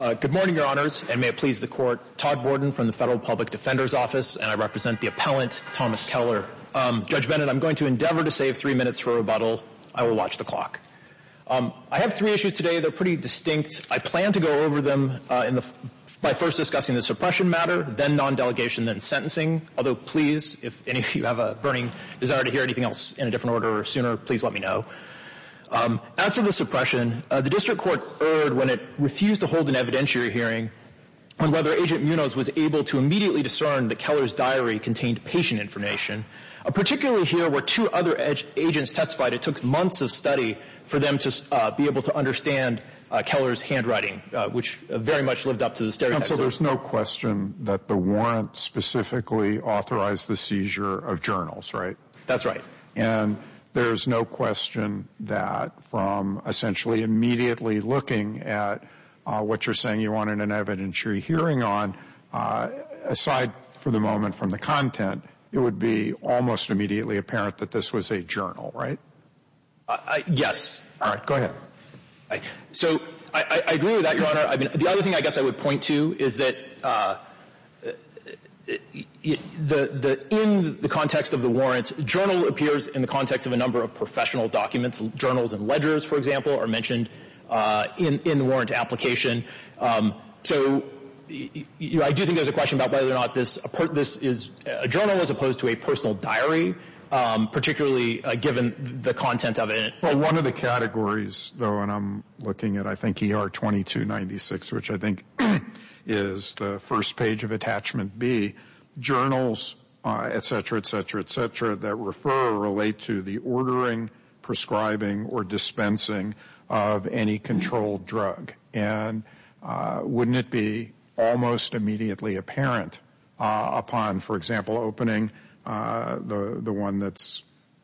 Good morning, your honors, and may it please the court. Todd Borden from the Federal Public Defender's Office, and I represent the appellant, Thomas Keller. Judge Bennett, I'm going to endeavor to save three minutes for rebuttal. I will watch the clock. I have three issues today. They're pretty distinct. I plan to go over them by first discussing the suppression matter, then non-delegation, then sentencing. Although, please, if any of you have a burning desire to hear anything else in a different order or sooner, please let me know. As to the suppression, the district court erred when it refused to hold an evidentiary hearing on whether Agent Munoz was able to immediately discern that Keller's diary contained patient information. Particularly here, where two other agents testified, it took months of study for them to be able to understand Keller's handwriting, which very much lived up to the stereotypes. So there's no question that the warrant specifically authorized the seizure of journals, right? That's right. And there's no question that from essentially immediately looking at what you're saying you wanted an evidentiary hearing on, aside for the moment from the content, it would be almost immediately apparent that this was a journal, right? Yes. All right. Go ahead. So I agree with that, Your Honor. The other thing I guess I would point to is that in the context of the warrants, journal appears in the context of a number of professional documents. Journals and ledgers, for example, are mentioned in the warrant application. So I do think there's a question about whether or not this is a journal as opposed to a personal diary, particularly given the content of it. Well, one of the categories, though, and I'm looking at, I think, ER 2296, which I think is the first page of attachment B, journals, et cetera, et cetera, et cetera, that refer or relate to the ordering, prescribing, or dispensing of any controlled drug. And wouldn't it be almost immediately apparent upon, for example, opening the one that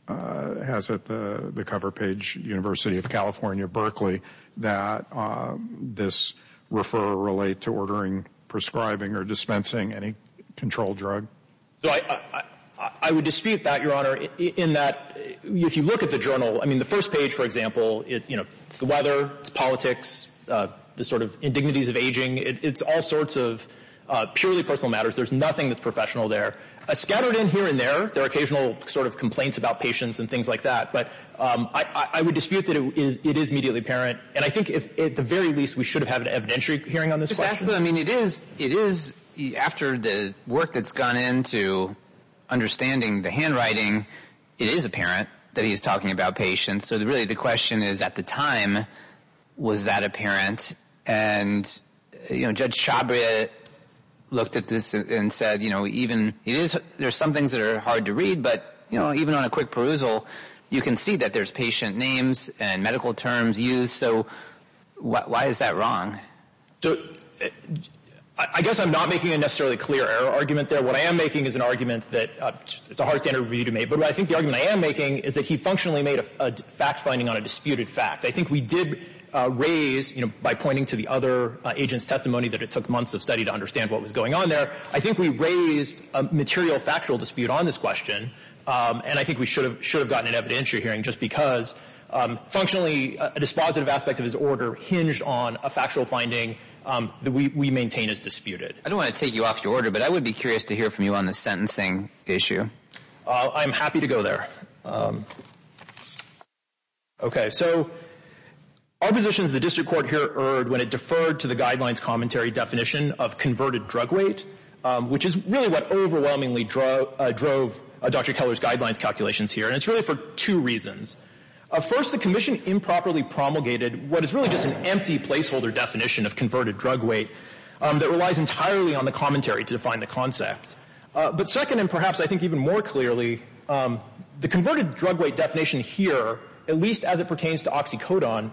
has the cover page, University of California, Berkeley, that this refer or relate to ordering, prescribing, or dispensing any controlled drug? So I would dispute that, Your Honor, in that if you look at the journal, I mean, the first page, for example, it's the weather, it's politics, the sort of indignities of aging. It's all sorts of purely personal matters. There's nothing that's professional there. Scattered in here and there, there are occasional sort of complaints about patients and things like that. But I would dispute that it is immediately apparent. And I think, at the very least, we should have had an evidentiary hearing on this question. Just ask them. I mean, it is, after the work that's gone into understanding the handwriting, it is apparent that he's talking about patients. So really, the question is, at the time, was that apparent? And, you know, Judge Chabria looked at this and said, you know, even it is, there's some things that are hard to read. But, you know, even on a quick perusal, you can see that there's patient names and medical terms used. So why is that wrong? So I guess I'm not making a necessarily clear error argument there. What I am making is an argument that it's a hard standard for you to make. But I think the argument I am making is that he functionally made a fact finding on a disputed fact. I think we did raise, you know, by pointing to the other agent's testimony that it took months of study to understand what was on there. I think we raised a material factual dispute on this question. And I think we should have gotten an evidentiary hearing just because functionally a dispositive aspect of his order hinged on a factual finding that we maintain is disputed. I don't want to take you off your order, but I would be curious to hear from you on the sentencing issue. I'm happy to go there. Okay. So our position is the district court here erred when it deferred to the guidelines commentary definition of converted drug weight, which is really what overwhelmingly drove Dr. Keller's guidelines calculations here. And it's really for two reasons. First, the commission improperly promulgated what is really just an empty placeholder definition of converted drug weight that relies entirely on the commentary to define the concept. But second, and perhaps I think even more clearly, the converted drug weight definition here, at least as it pertains to oxycodone,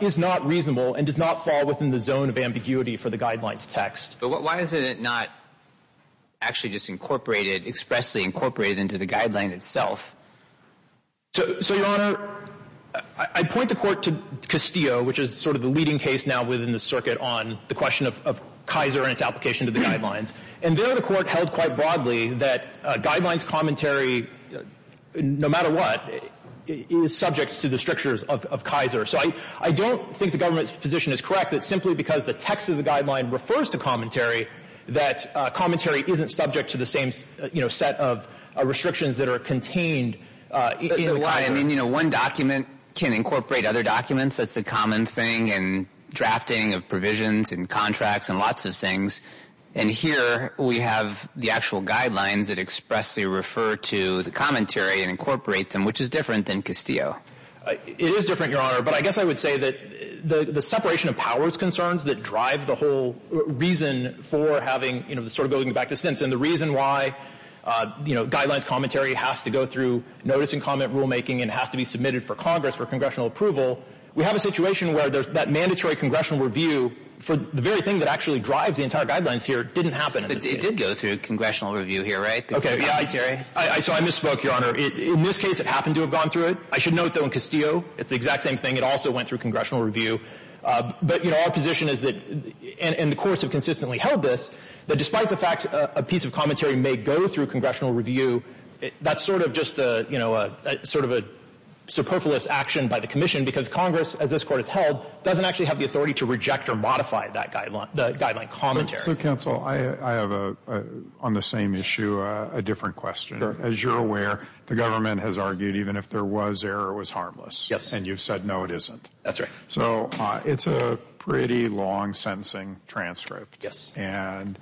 is not reasonable and does not fall within the zone of ambiguity for the guidelines text. But why is it not actually just incorporated, expressly incorporated into the guideline itself? So, Your Honor, I point the court to Castillo, which is sort of the leading case now within the circuit on the question of Kaiser and its application to the guidelines. And there the court held quite broadly that guidelines commentary, no matter what, is subject to the strictures of Kaiser. So I don't think the government's correct that simply because the text of the guideline refers to commentary, that commentary isn't subject to the same, you know, set of restrictions that are contained. I mean, you know, one document can incorporate other documents. That's a common thing in drafting of provisions and contracts and lots of things. And here we have the actual guidelines that expressly refer to the commentary and incorporate them, which is different than Castillo. It is different, Your Honor. But I guess I would say that the separation of powers concerns that drive the whole reason for having, you know, sort of going back to Stinson, the reason why, you know, guidelines commentary has to go through notice and comment rulemaking and has to be submitted for Congress for congressional approval, we have a situation where there's that mandatory congressional review for the very thing that actually drives the entire guidelines here didn't happen. It did go through congressional review here, right? Okay. So I misspoke, Your Honor. In this case, it happened to have gone through it. I should note, though, in Castillo, it's the exact same thing. It also went through congressional review. But, you know, our position is that, and the courts have consistently held this, that despite the fact a piece of commentary may go through congressional review, that's sort of just a, you know, a sort of a superfluous action by the commission, because Congress, as this Court has held, doesn't actually have the authority to reject or modify that guideline, the guideline commentary. So, counsel, I have a, on the same issue, a different question. As you're aware, the government has argued even if there was error, it was harmless. Yes. And you've said no, it isn't. That's right. So it's a pretty long sentencing transcript. Yes. And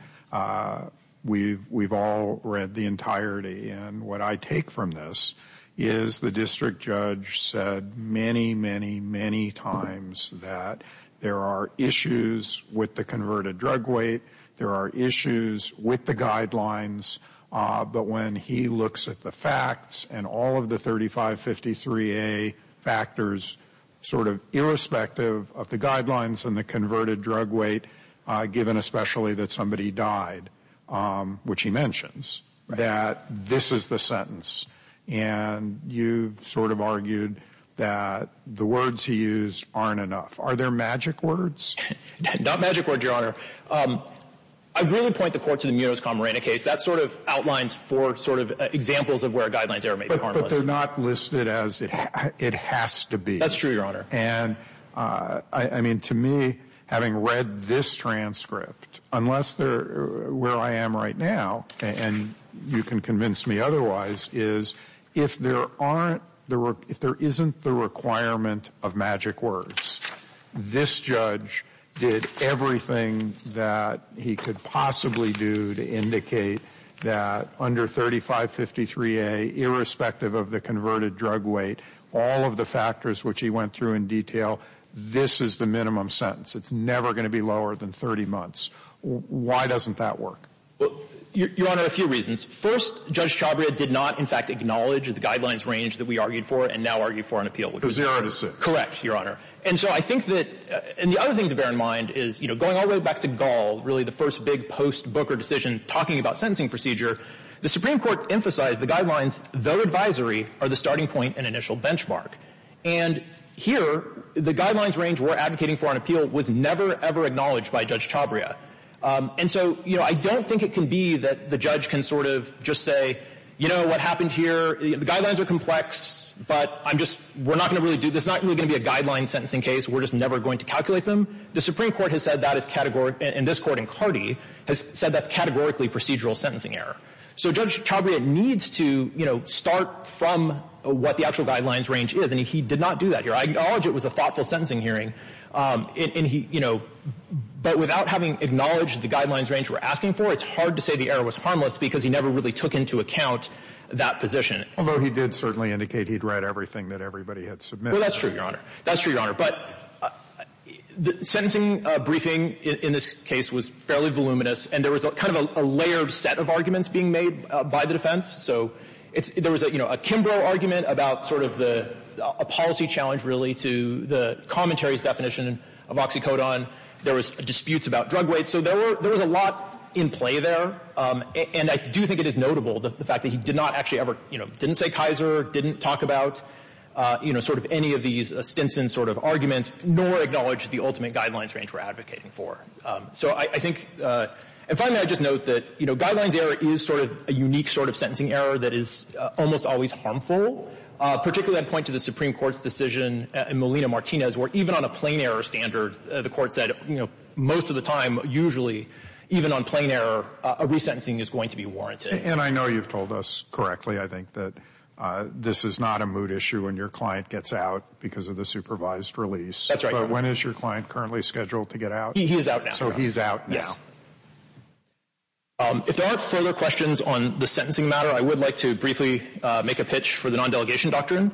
we've all read the entirety. And what I take from this is the district judge said many, many, many times that there are issues with the converted drug weight, there are issues with the guidelines, but when he looks at the facts and all of the 3553A factors, sort of irrespective of the guidelines and the converted drug weight, given especially that somebody died, which he mentions, that this is the sentence. And you've sort of argued that the words he used aren't enough. Are there magic words? Not magic words, Your Honor. I really point the Court to the Munoz-Camarena case. That sort of outlines four sort of examples of where a guidelines error may be harmless. But they're not listed as it has to be. That's true, Your Honor. And I mean, to me, having read this transcript, unless they're where I am right now, and you can convince me otherwise, is if there aren't, if there isn't the requirement of magic words, this judge did everything that he could possibly do to indicate that under 3553A, irrespective of the converted drug weight, all of the factors which he went through in detail, this is the minimum sentence. It's never going to be lower than 30 months. Why doesn't that work? Well, Your Honor, a few reasons. First, Judge Chabria did not, in fact, acknowledge the guidelines range that we argued for and now argue for an appeal. Because they aren't as simple. Correct, Your Honor. And so I think that, and the other thing to bear in mind is, you know, going all the way back to Gall, really the first big post-Booker decision talking about sentencing procedure, the Supreme Court emphasized the guidelines, though advisory, are the starting point and initial benchmark. And here, the guidelines range we're advocating for an appeal was never, ever acknowledged by Judge Chabria. And so, you know, I don't think it can be that the judge can sort of just say, you know, what happened here, the guidelines are complex, but I'm just, we're not going to really do, this is not really going to be a guideline sentencing case. We're just never going to calculate them. The Supreme Court has said that is categorical, and this Court in Cardi has said that's categorically procedural sentencing error. So Judge Chabria needs to, you know, start from what the actual guidelines range is. And he did not do that here. I acknowledge it was a thoughtful sentencing hearing. And he, you know, but without having acknowledged the guidelines range we're asking for, it's hard to say the error was harmless because he never really took into account that position. Although he did certainly indicate he'd read everything that everybody had submitted. Well, that's true, Your Honor. That's true, Your Honor. But the sentencing briefing in this case was fairly voluminous, and there was kind of a layered set of arguments being made by the defense. So it's, there was a, you know, a Kimbrough argument about sort of the, a policy challenge, really, to the commentary's definition of oxycodone. There was disputes about drug weight. So there were, there was a lot in play there. And I do think it is notable, the fact that he did not actually ever, you know, didn't say Kaiser, didn't talk about, you know, sort of any of these Stinson sort of arguments, nor acknowledge the ultimate guidelines range we're advocating for. So I think, and finally, I'd just note that, you know, guidelines error is sort of a unique sort of sentencing error that is almost always harmful, particularly I'd point to the Supreme Court's decision in Molina-Martinez, where even on a plain error standard, the Court said, you know, most of the time, usually, even on plain error, a resentencing is going to be warranted. And I know you've told us correctly, I think, that this is not a mood issue when your client gets out because of the supervised release. That's right. But when is your client currently scheduled to get out? He is out now. So he's out now. If there aren't further questions on the sentencing matter, I would like to briefly make a pitch for the non-delegation doctrine.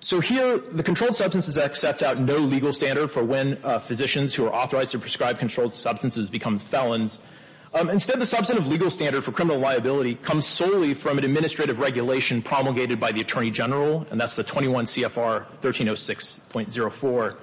So here, the Controlled Substances Act sets out no legal standard for when physicians who are authorized to prescribe controlled substances become felons. Instead, the substantive legal standard for criminal liability comes solely from an administrative regulation promulgated by the Attorney General, and that's the 21 CFR 1306.04.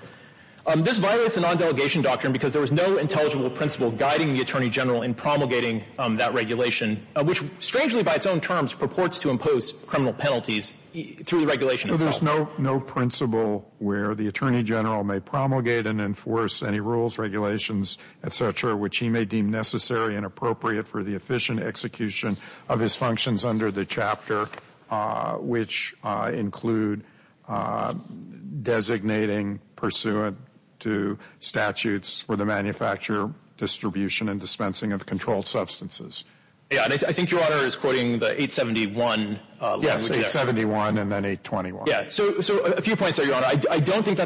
This violates the non-delegation doctrine because there was no intelligible principle guiding the Attorney General in promulgating that regulation, which, strangely, by its own terms, purports to impose criminal penalties through the regulation itself. So there's no principle where the Attorney General may promulgate and enforce any rules, regulations, et cetera, which he may deem necessary and appropriate for the efficient execution of his functions under the chapter, which include designating pursuant to statutes for the manufacture, distribution, and dispensing of controlled substances. Yeah, and I think Your Honor is quoting the 871 language. Yes, 871 and then 821. Yeah, so a few points there, Your Honor. I don't think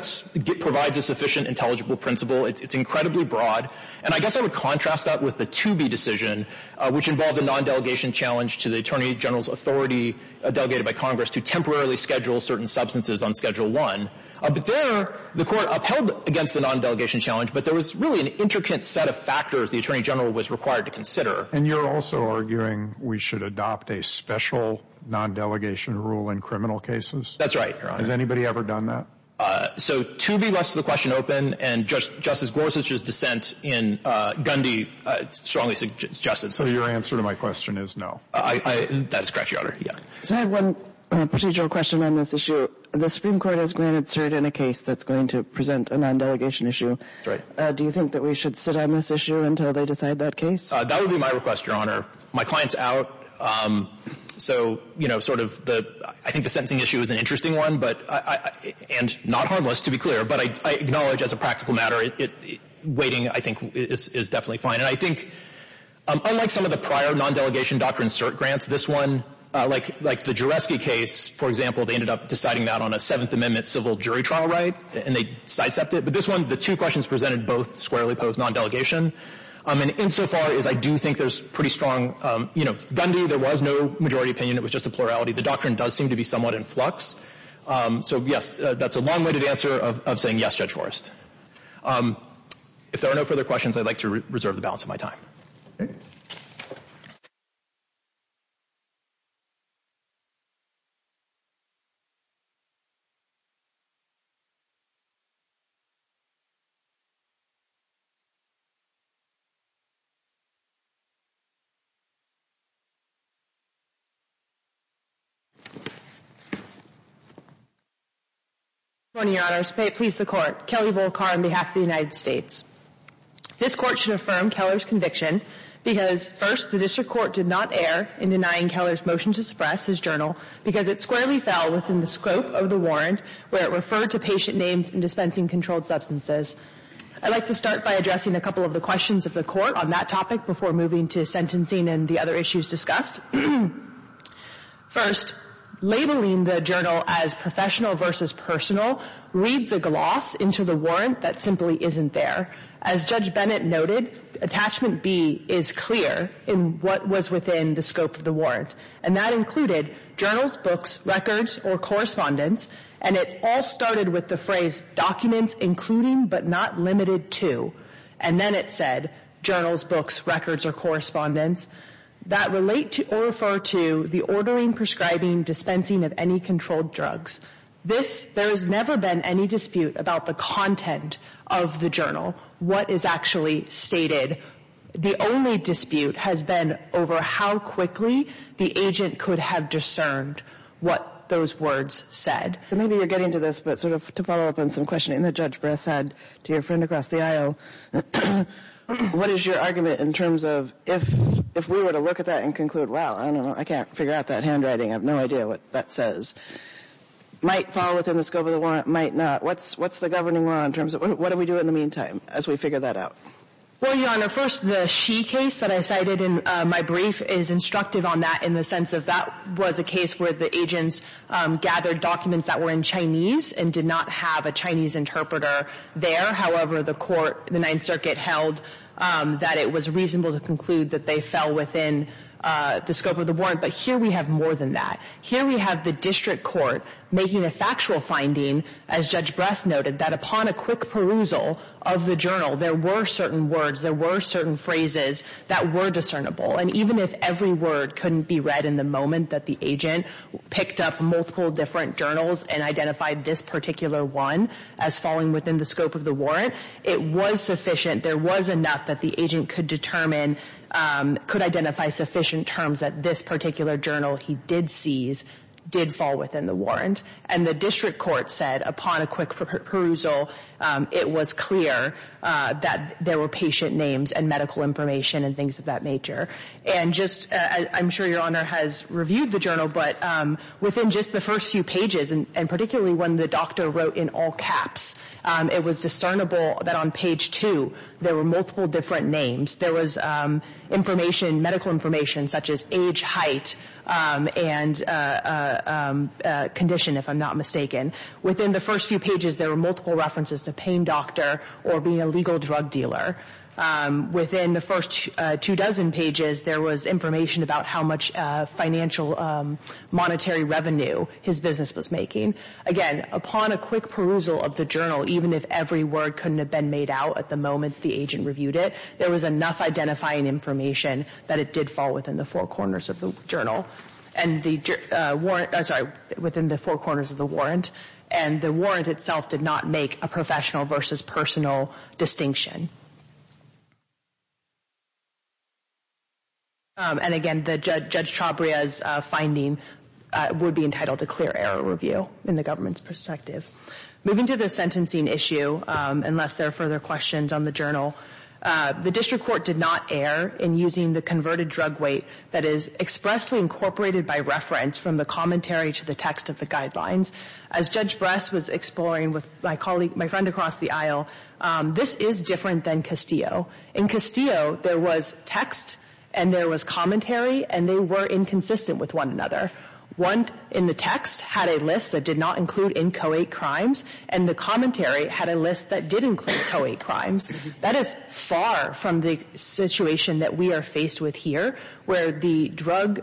provides a sufficient intelligible principle. It's incredibly broad, and I guess I would contrast that with the Toobie decision, which involved a non-delegation challenge to the Attorney General's authority, delegated by Congress, to temporarily schedule certain substances on Schedule I. But there, the Court upheld against the non-delegation challenge, but there was really an intricate set of factors the Attorney General was required to consider. And you're also arguing we should adopt a special non-delegation rule in criminal cases? That's right, Your Honor. Has anybody ever done that? So Toobie lets the question open, and Justice Gorsuch's dissent in Gundy strongly suggests it. So your answer to my question is no. That is correct, Your Honor. Yeah. So I have one procedural question on this issue. The Supreme Court has granted cert in a case that's going to present a non-delegation issue. Right. Do you think that we should sit on this issue until they decide that case? That would be my request, Your Honor. My client's out, so, you know, sort of the — I think the sentencing issue is an interesting one, but — and not harmless, to be clear. But I acknowledge, as a practical matter, it — waiting, I think, is definitely fine. And I think, unlike some of the prior non-delegation doctrine cert grants, this one, like — like the Juresky case, for example, they ended up deciding that on a Seventh Amendment civil jury trial right, and they sidestepped it. But this one, the two questions presented both squarely pose non-delegation. And insofar as I do think there's pretty strong — you know, Gundy, there was no majority opinion. It was just a plurality. The doctrine does seem to be somewhat in flux. So, yes, that's a long-winded answer of saying yes, Judge Forrest. If there are no further questions, I'd like to reserve the balance of my time. Kelly Volkar. Good morning, Your Honors. Please, the Court. Kelly Volkar on behalf of the United States. This Court should affirm Keller's conviction because, first, the District Court did not err in denying Keller's motion to suppress his journal because it squarely fell within the scope of the warrant where it referred to patient names and dispensing controlled substances. I'd like to start by addressing a couple of the questions of the Court on that topic before moving to sentencing and the other issues discussed. First, labeling the journal as professional versus personal reads a gloss into the warrant that simply isn't there. As Judge Bennett noted, attachment B is clear in what was within the scope of the warrant. And that included journals, books, records, or correspondence. And it all started with the phrase, documents including but not limited to. And then it said, journals, books, records, or correspondence that relate to or refer to the ordering, prescribing, dispensing of any controlled drugs. This, there has never been any dispute about the content of the journal, what is actually stated. The only dispute has been over how quickly the agent could have discerned what those words said. And maybe you're getting to this, but sort of to follow up on some questioning that Judge Bress had to your friend across the aisle, what is your argument in terms of if we were to look at that and conclude, well, I don't know, I can't figure out that handwriting, I have no idea what that says. Might fall within the scope of the warrant, might not. What's the governing law in terms of what do we do in the meantime as we figure that out? Well, Your Honor, first the she case that I cited in my brief is instructive on that in the sense of that was a case where the agents gathered documents that were in Chinese and did not have a Chinese interpreter there. However, the court, the Ninth Circuit held that it was reasonable to conclude that they fell within the scope of the warrant. But here we have more than that. Here we have the district court making a factual finding, as Judge Bress noted, that upon a quick perusal of the journal, there were certain words, there were certain phrases that were discernible. And even if every word couldn't be read in the moment that the agent picked up multiple different journals and identified this particular one as falling within the scope of the warrant, it was sufficient, there was enough that the agent could determine, could identify sufficient terms that this particular journal he did seize did fall within the warrant. And the district court said upon a quick perusal, it was clear that there were patient names and medical information and things of that nature. And just, I'm not sure Your Honor has reviewed the journal, but within just the first few pages, and particularly when the doctor wrote in all caps, it was discernible that on page two, there were multiple different names. There was information, medical information, such as age, height, and condition, if I'm not mistaken. Within the first few pages, there were multiple references to pain doctor or being a legal drug dealer. Within the first two dozen pages, there was information about how much financial, monetary revenue his business was making. Again, upon a quick perusal of the journal, even if every word couldn't have been made out at the moment the agent reviewed it, there was enough identifying information that it did fall within the four corners of the journal. And the warrant, I'm sorry, within the four corners of the warrant. And the warrant itself did not make a professional versus personal distinction. And again, Judge Chabria's finding would be entitled to clear error review in the government's perspective. Moving to the sentencing issue, unless there are further questions on the journal, the district court did not err in using the converted drug weight that is expressly incorporated by reference from the commentary to the text of the guidelines. As Judge Bress was exploring with my colleague, my friend across the aisle, this is different than the drug weight Castillo. In Castillo, there was text and there was commentary, and they were inconsistent with one another. One in the text had a list that did not include inchoate crimes, and the commentary had a list that did include choate crimes. That is far from the situation that we are faced with here, where the drug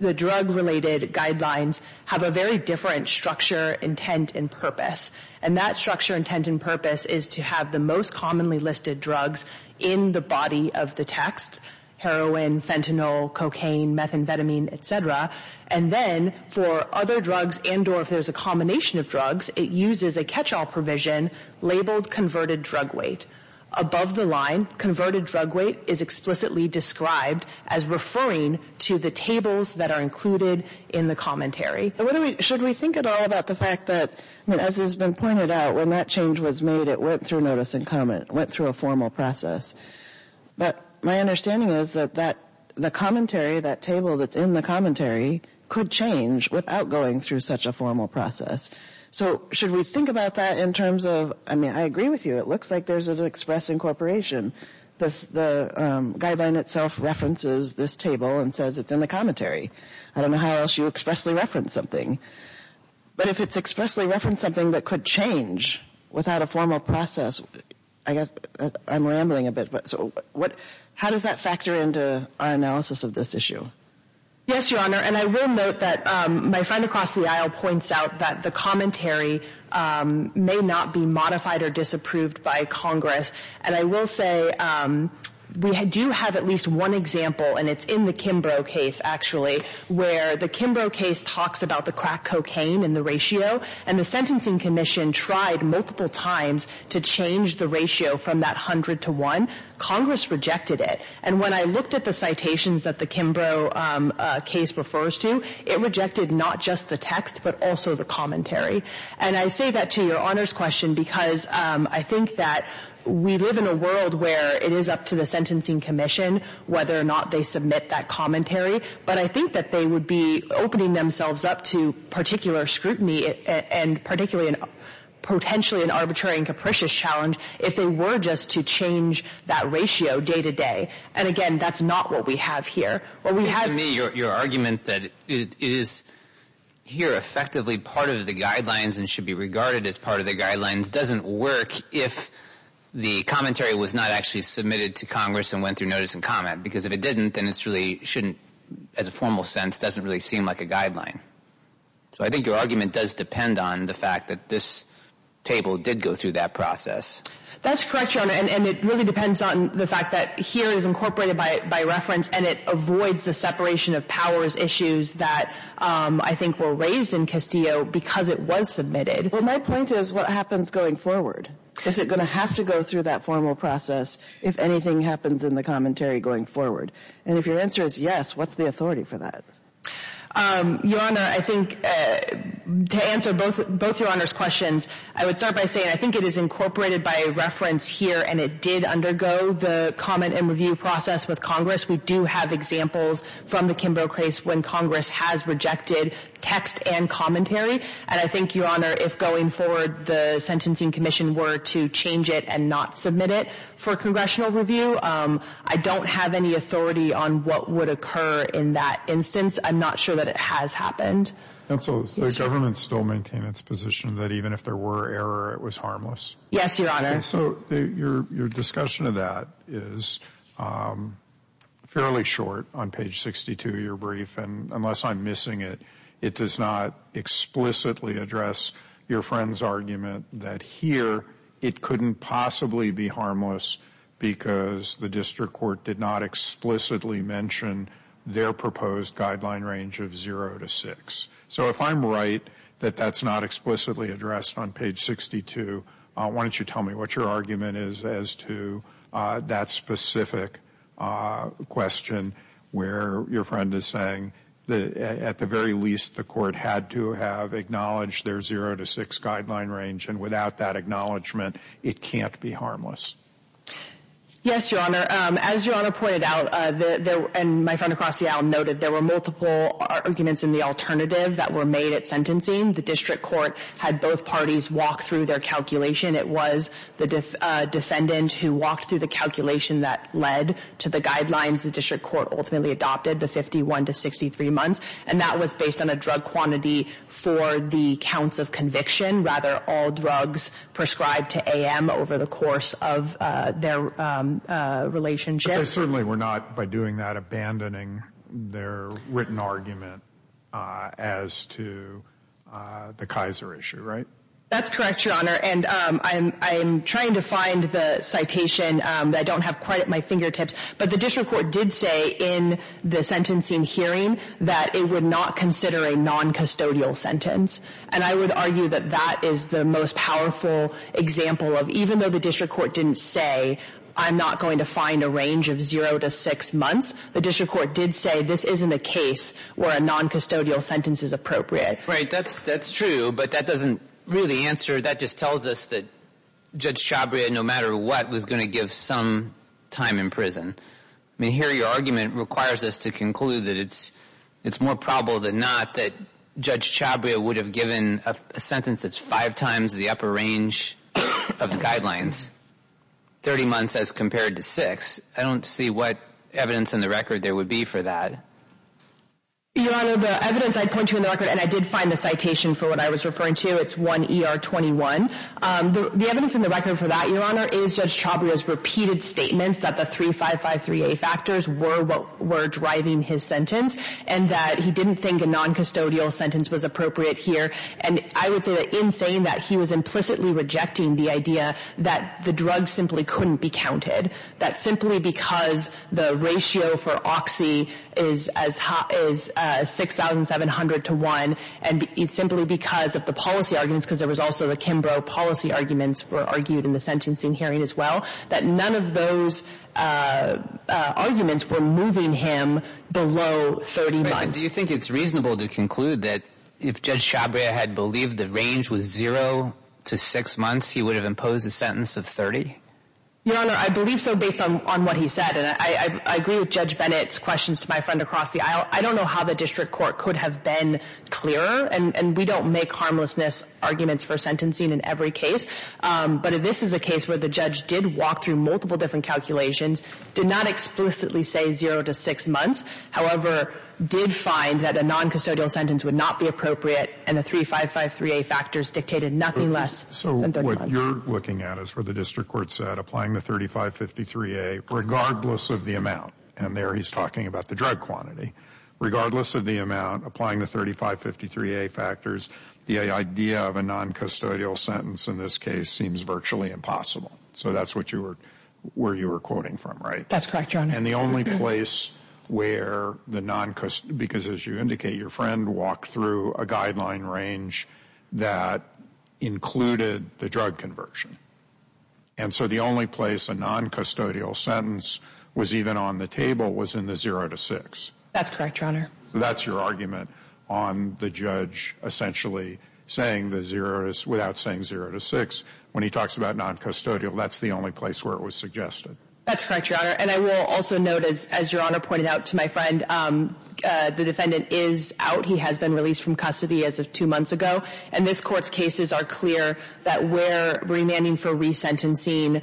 related guidelines have a very different structure, intent, and purpose. And that structure, intent, and purpose is to have the most commonly listed drugs in the body of the text, heroin, fentanyl, cocaine, methamphetamine, et cetera. And then for other drugs and or if there's a combination of drugs, it uses a catch-all provision labeled converted drug weight. Above the line, converted drug weight is explicitly described as referring to the tables that are included in the commentary. Should we think at all about the fact that, as has been pointed out, when that change was made, it went through notice and comment. It went through a formal process. But my understanding is that the commentary, that table that's in the commentary, could change without going through such a formal process. So should we think about that in terms of, I mean, I agree with you. It looks like there's an express incorporation. The guideline itself references this table and says it's in the commentary. I don't know how else you expressly reference something. But if it's expressly referenced something that could change without a formal process, I guess I'm rambling a bit. So how does that factor into our analysis of this issue? Yes, Your Honor. And I will note that my friend across the aisle points out that the commentary may not be modified or disapproved by Congress. And I will say we do have at least one example, and it's in the Kimbrough case, actually, where the Kimbrough case talks about the crack cocaine and the ratio. And the Sentencing Commission tried multiple times to change the ratio from that 100 to 1. Congress rejected it. And when I looked at the citations that the Kimbrough case refers to, it rejected not just the text, but also the commentary. And I say that to Your Honor's question because I think that we live in a world where it is up to the Sentencing Commission whether or not they submit that commentary. But I think that they would be opening themselves up to particular scrutiny and potentially an arbitrary and capricious challenge if they were just to change that ratio day to day. And again, that's not what we have here. To me, your argument that it is here effectively part of the guidelines and should be regarded as part of the guidelines doesn't work if the commentary was not actually submitted to Congress and went through notice and comment. Because if it didn't, then it's really shouldn't, as a formal sense, doesn't really seem like a guideline. So I think your argument does depend on the fact that this table did go through that process. That's correct, Your Honor. And it really depends on the fact that here is incorporated by reference, and it avoids the separation of powers issues that I think were raised in Castillo because it was submitted. Well, my point is what happens going forward? Is it going to have to go through that formal process if anything happens in the commentary going forward? And if your answer is yes, what's the authority for that? Your Honor, I think to answer both Your Honor's questions, I would start by saying I think it is incorporated by reference here, and it did undergo the comment and review process with Congress. We do have examples from the Kimbell case when Congress has rejected text and commentary. And I think, Your Honor, if going forward the Sentencing Commission were to change it and not submit it for congressional review, I don't have any authority on what would occur in that instance. I'm not sure that it has happened. Counsel, does the government still maintain its position that even if there were error, it was harmless? Yes, Your Honor. So your discussion of that is fairly short on page 62 of your brief. And unless I'm missing it, it does not explicitly address your friend's argument that here it couldn't possibly be harmless because the district court did not explicitly mention their proposed guideline range of 0 to 6. So if I'm right that that's not explicitly addressed on page 62, why don't you tell me what your argument is as to that specific question where your friend is saying that at the very least the court had to have acknowledged their 0 to 6 guideline range. And without that acknowledgement, it can't be harmless. Yes, Your Honor. As Your Honor pointed out, and my friend across the aisle noted, there were multiple arguments in the alternative that were made at sentencing. The district court had both parties walk through their calculation. It was the defendant who walked through the calculation that led to the guidelines the district court ultimately adopted, the 51 to 63 months. And that was based on a drug quantity for the counts of conviction, rather all drugs prescribed to AM over the course of their relationship. But they certainly were not, by doing that, abandoning their written argument as to the Kaiser issue, right? That's correct, Your Honor. And I'm trying to find the citation. I don't have quite at my fingertips. But the district court did say in the sentencing hearing that it would not consider a noncustodial sentence. And I would argue that that is the most powerful example of even though the district court didn't say I'm not going to find a range of 0 to 6 months, the district court did say this isn't a case where a noncustodial sentence is appropriate. Right, that's true. But that doesn't really answer, that just tells us that Judge Chabria, no matter what, was going to give some time in prison. I mean, here your argument requires us to conclude that it's more probable than not that Judge Chabria would have given a sentence that's five times the upper range of the guidelines, 30 months as compared to six. I don't see what evidence in the record there would be for that. Your Honor, the evidence I point to in the record, and I did find the citation for what I was referring to, it's 1 ER 21. The evidence in the record for that, Your Honor, is Judge Chabria's repeated statements that the 3553A factors were what were driving his sentence and that he didn't think a noncustodial sentence was appropriate here. And I would say that in saying that, he was implicitly rejecting the idea that the drug simply couldn't be counted, that simply because the ratio for Oxy is 6,700 to 1, and it's simply because of the policy arguments, because there was also the Kimbrough policy arguments were argued in the sentencing hearing as well, that none of those arguments were moving him below 30 months. Do you think it's reasonable to conclude that if Judge Chabria had believed the range was zero to six months, he would have imposed a sentence of 30? Your Honor, I believe so based on what he said. And I agree with Judge Bennett's questions to my friend across the aisle. I don't know how the district court could have been clearer. And we don't make harmlessness arguments for sentencing in every case. But this is a case where the judge did walk through multiple different calculations, did not explicitly say zero to six months, however, did find that a noncustodial sentence would not be appropriate, and the 3553A factors dictated nothing less than 30 months. What you're looking at is where the district court said applying the 3553A, regardless of the amount, and there he's talking about the drug quantity, regardless of the amount, applying the 3553A factors, the idea of a noncustodial sentence in this case seems virtually impossible. So that's where you were quoting from, right? That's correct, Your Honor. And the only place where the noncustodial, because as you indicate, your walked through a guideline range that included the drug conversion. And so the only place a noncustodial sentence was even on the table was in the zero to six. That's correct, Your Honor. That's your argument on the judge essentially saying the zero, without saying zero to six, when he talks about noncustodial, that's the only place where it was suggested. That's correct, Your Honor. And I will also note, as Your Honor pointed out to my friend, the defendant is out. He has been released from custody as of two months ago. And this court's cases are clear that where remanding for resentencing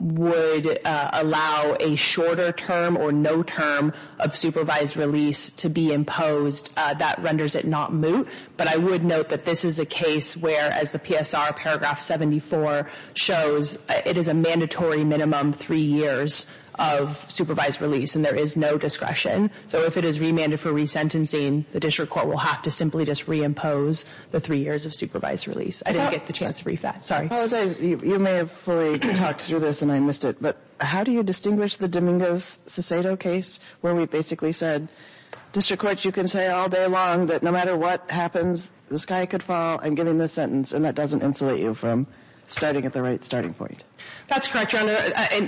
would allow a shorter term or no term of supervised release to be imposed, that renders it not moot. But I would note that this is a case where, as the PSR paragraph 74 shows, it is a mandatory minimum three years of supervised release. And there is no discretion. So if it is remanded for resentencing, the district court will have to simply just reimpose the three years of supervised release. I didn't get the chance to brief that. Sorry. I apologize. You may have fully talked through this, and I missed it. But how do you distinguish the Dominguez-Cicedo case where we basically said, District Court, you can say all day long that no matter what happens, the sky could fall. I'm giving this sentence. And that doesn't insulate you from starting at the right starting point. That's correct, Your Honor.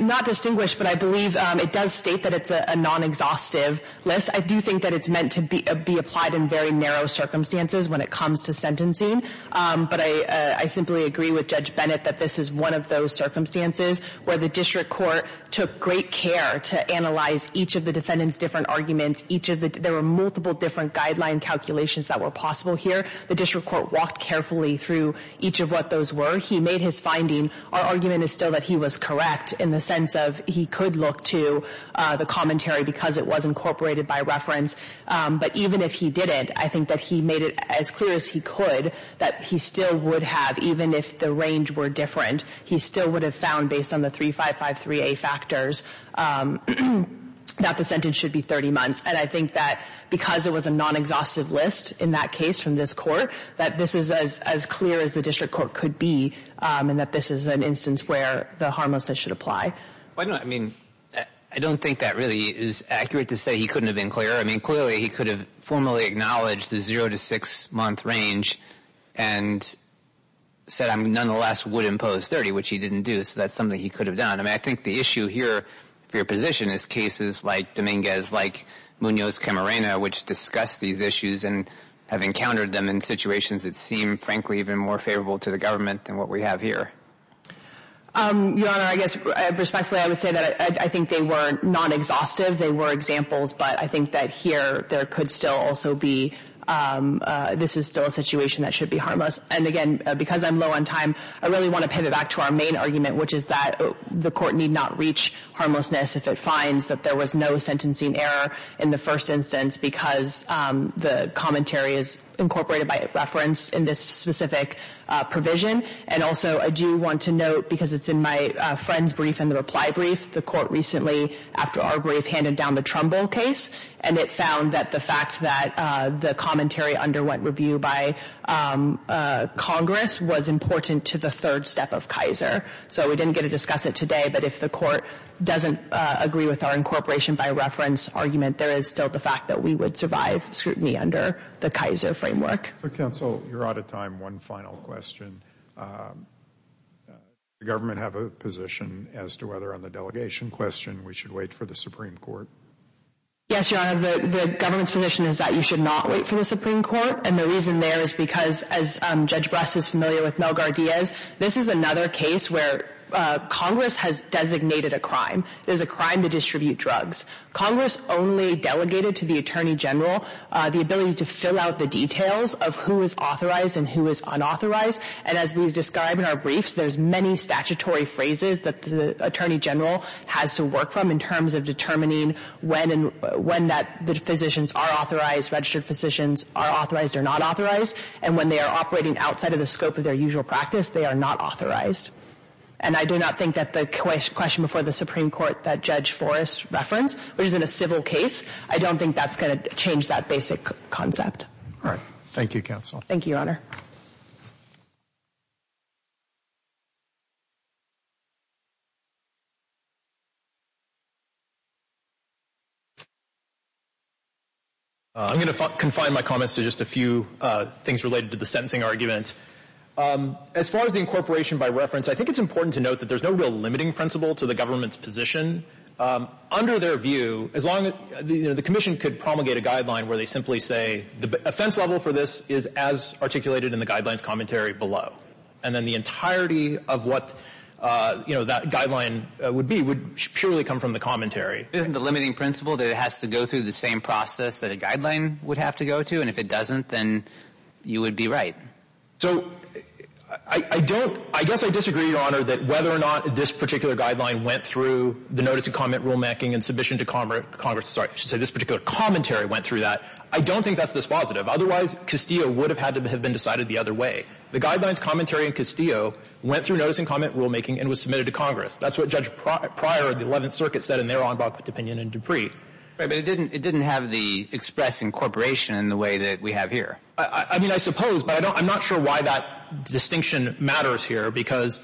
Not distinguished, but I believe it does state that it's a non-exhaustive list. I do think that it's meant to be applied in very narrow circumstances when it comes to sentencing. But I simply agree with Judge Bennett that this is one of those circumstances where the district court took great care to analyze each of the defendant's different arguments. There were multiple different guideline calculations that were possible here. The district court walked carefully through each of what those were. He made his finding, our argument is still that he was correct in the sense of he could look to the commentary because it was incorporated by reference. But even if he didn't, I think that he made it as clear as he could that he still would have, even if the range were different, he still would have found based on the 3553A factors that the sentence should be 30 months. And I think that because it was a non-exhaustive list in that case from this court, that this is as clear as the instance where the harmlessness should apply. I don't think that really is accurate to say he couldn't have been clearer. I mean, clearly he could have formally acknowledged the zero to six month range and said nonetheless would impose 30, which he didn't do. So that's something he could have done. I mean, I think the issue here for your position is cases like Dominguez, like Munoz Camarena, which discuss these issues and have encountered them in situations that seem frankly even more favorable to the court. Your Honor, I guess respectfully I would say that I think they were non-exhaustive. They were examples, but I think that here there could still also be, this is still a situation that should be harmless. And again, because I'm low on time, I really want to pivot back to our main argument, which is that the court need not reach harmlessness if it finds that there was no sentencing error in the first instance because the commentary is incorporated by reference in this specific provision. And also I do want to note, because it's in my friend's brief and the reply brief, the court recently after our brief handed down the Trumbull case and it found that the fact that the commentary underwent review by Congress was important to the third step of Kaiser. So we didn't get to discuss it today, but if the court doesn't agree with our incorporation by reference argument, there is still the fact that we would survive scrutiny under the Kaiser framework. Counsel, you're out of time. One final question. Does the government have a position as to whether on the delegation question we should wait for the Supreme Court? Yes, Your Honor, the government's position is that you should not wait for the Supreme Court. And the reason there is because, as Judge Bress is familiar with Mel Gardeas, this is another case where Congress has designated a crime. It is a crime to distribute drugs. Congress only delegated to the Attorney General the ability to fill out the details of who is authorized and who is unauthorized. And as we describe in our briefs, there's many statutory phrases that the Attorney General has to work from in terms of determining when and when that the physicians are authorized, registered physicians are authorized or not authorized. And when they are operating outside of the scope of their usual practice, they are not authorized. And I do not think that the question before the Supreme Court that Judge Forrest referenced, which is in a civil case, I don't think that's going to change that basic concept. All right. Thank you, Counsel. Thank you, Your Honor. I'm going to confine my comments to just a few things related to the sentencing argument. As far as the incorporation by reference, I think it's important to note that there's no real limiting principle to the government's position. Under their view, as long as the commission could promulgate a guideline where they simply say the offense level for this is as articulated in the guidelines commentary below, and then the entirety of what, you know, that guideline would be would purely come from the commentary. Isn't the limiting principle that it has to go through the same process that a guideline would have to go to? And if it doesn't, then you would be right. So I don't – I guess I disagree, Your Honor, that whether or not this particular guideline went through the notice-and-comment rulemaking and submission to Congress – sorry, I should say this particular commentary went through that. I don't think that's dispositive. Otherwise, Castillo would have had to have been decided the other way. The guidelines commentary in Castillo went through notice-and-comment rulemaking and was submitted to Congress. That's what Judge Pryor of the Eleventh Circuit said in their en banc opinion in Dupree. Right. But it didn't have the express incorporation in the way that we have here. I mean, I suppose, but I don't – I'm not sure why that distinction matters here because,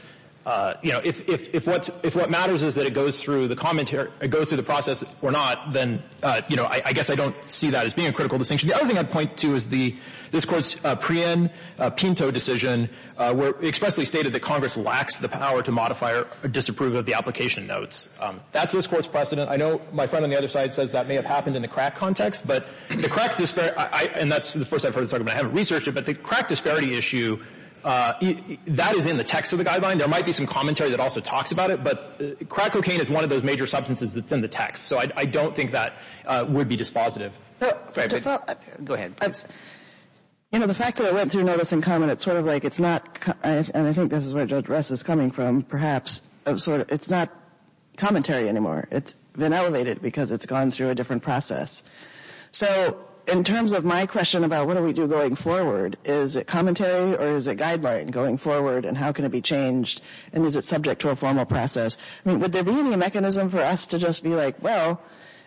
you know, if – if what's – if what matters is that it goes through the commentary – it goes through the process or not, then, you know, I guess I don't see that as being a critical distinction. The other thing I'd point to is the – this Court's pre-in Pinto decision where it expressly stated that Congress lacks the power to modify or disapprove of the application notes. That's this Court's precedent. I know my friend on the other side says that may have happened in the crack context, but the crack – and that's the first I've heard this argument. I haven't researched it, but the crack disparity issue, that is in the text of the guideline. There might be some commentary that also talks about it, but crack cocaine is one of those major substances that's in the text. So I don't think that would be dispositive. Go ahead. You know, the fact that it went through notice and comment, it's sort of like it's not – and I think this is where Judge Rest is coming from, perhaps, of sort of – it's not commentary anymore. It's been elevated because it's gone through a different process. So in terms of my question about what do we do going forward, is it commentary or is it guideline going forward, and how can it be changed, and is it subject to a formal process? I mean, would there be any mechanism for us to just be like, well,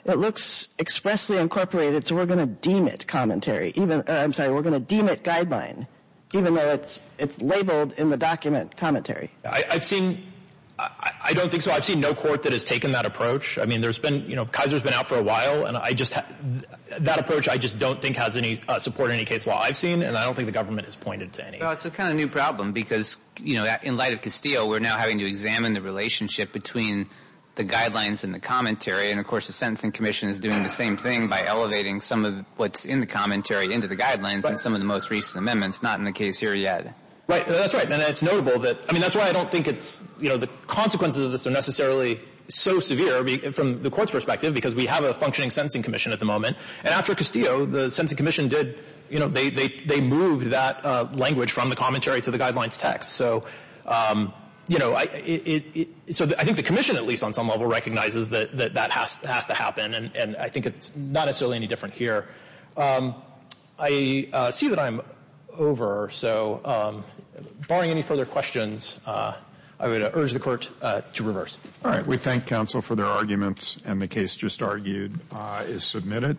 it looks expressly incorporated, so we're going to deem it commentary even – or I'm sorry, we're going to deem it guideline, even though it's labeled in the document commentary. I've seen – I don't think so. I've seen no court that has taken that approach. I mean, there's been – you know, Kaiser's been out for a while, and I just – that approach I just don't think has any support in any case law I've seen, and I don't think the government has pointed to any. Well, it's a kind of new problem because, you know, in light of Castillo, we're now having to examine the relationship between the guidelines and the commentary, and of course the Sentencing Commission is doing the same thing by elevating some of what's in the commentary into the guidelines and some of the most recent amendments, not in the case here yet. Right. That's right. And it's notable that – I mean, that's why I don't think it's – you know, the consequences of this are necessarily so severe from the Court's perspective because we have a functioning Sentencing Commission at the moment, and after Castillo, the Sentencing Commission did – you know, they moved that language from the commentary to the guidelines text. So, you know, it – so I think the Commission at least on some level recognizes that that has to happen, and I think it's not necessarily any different here. I see that I'm over, so barring any further questions, I would urge the Court to reverse. All right. We thank counsel for their arguments, and the case just argued is submitted.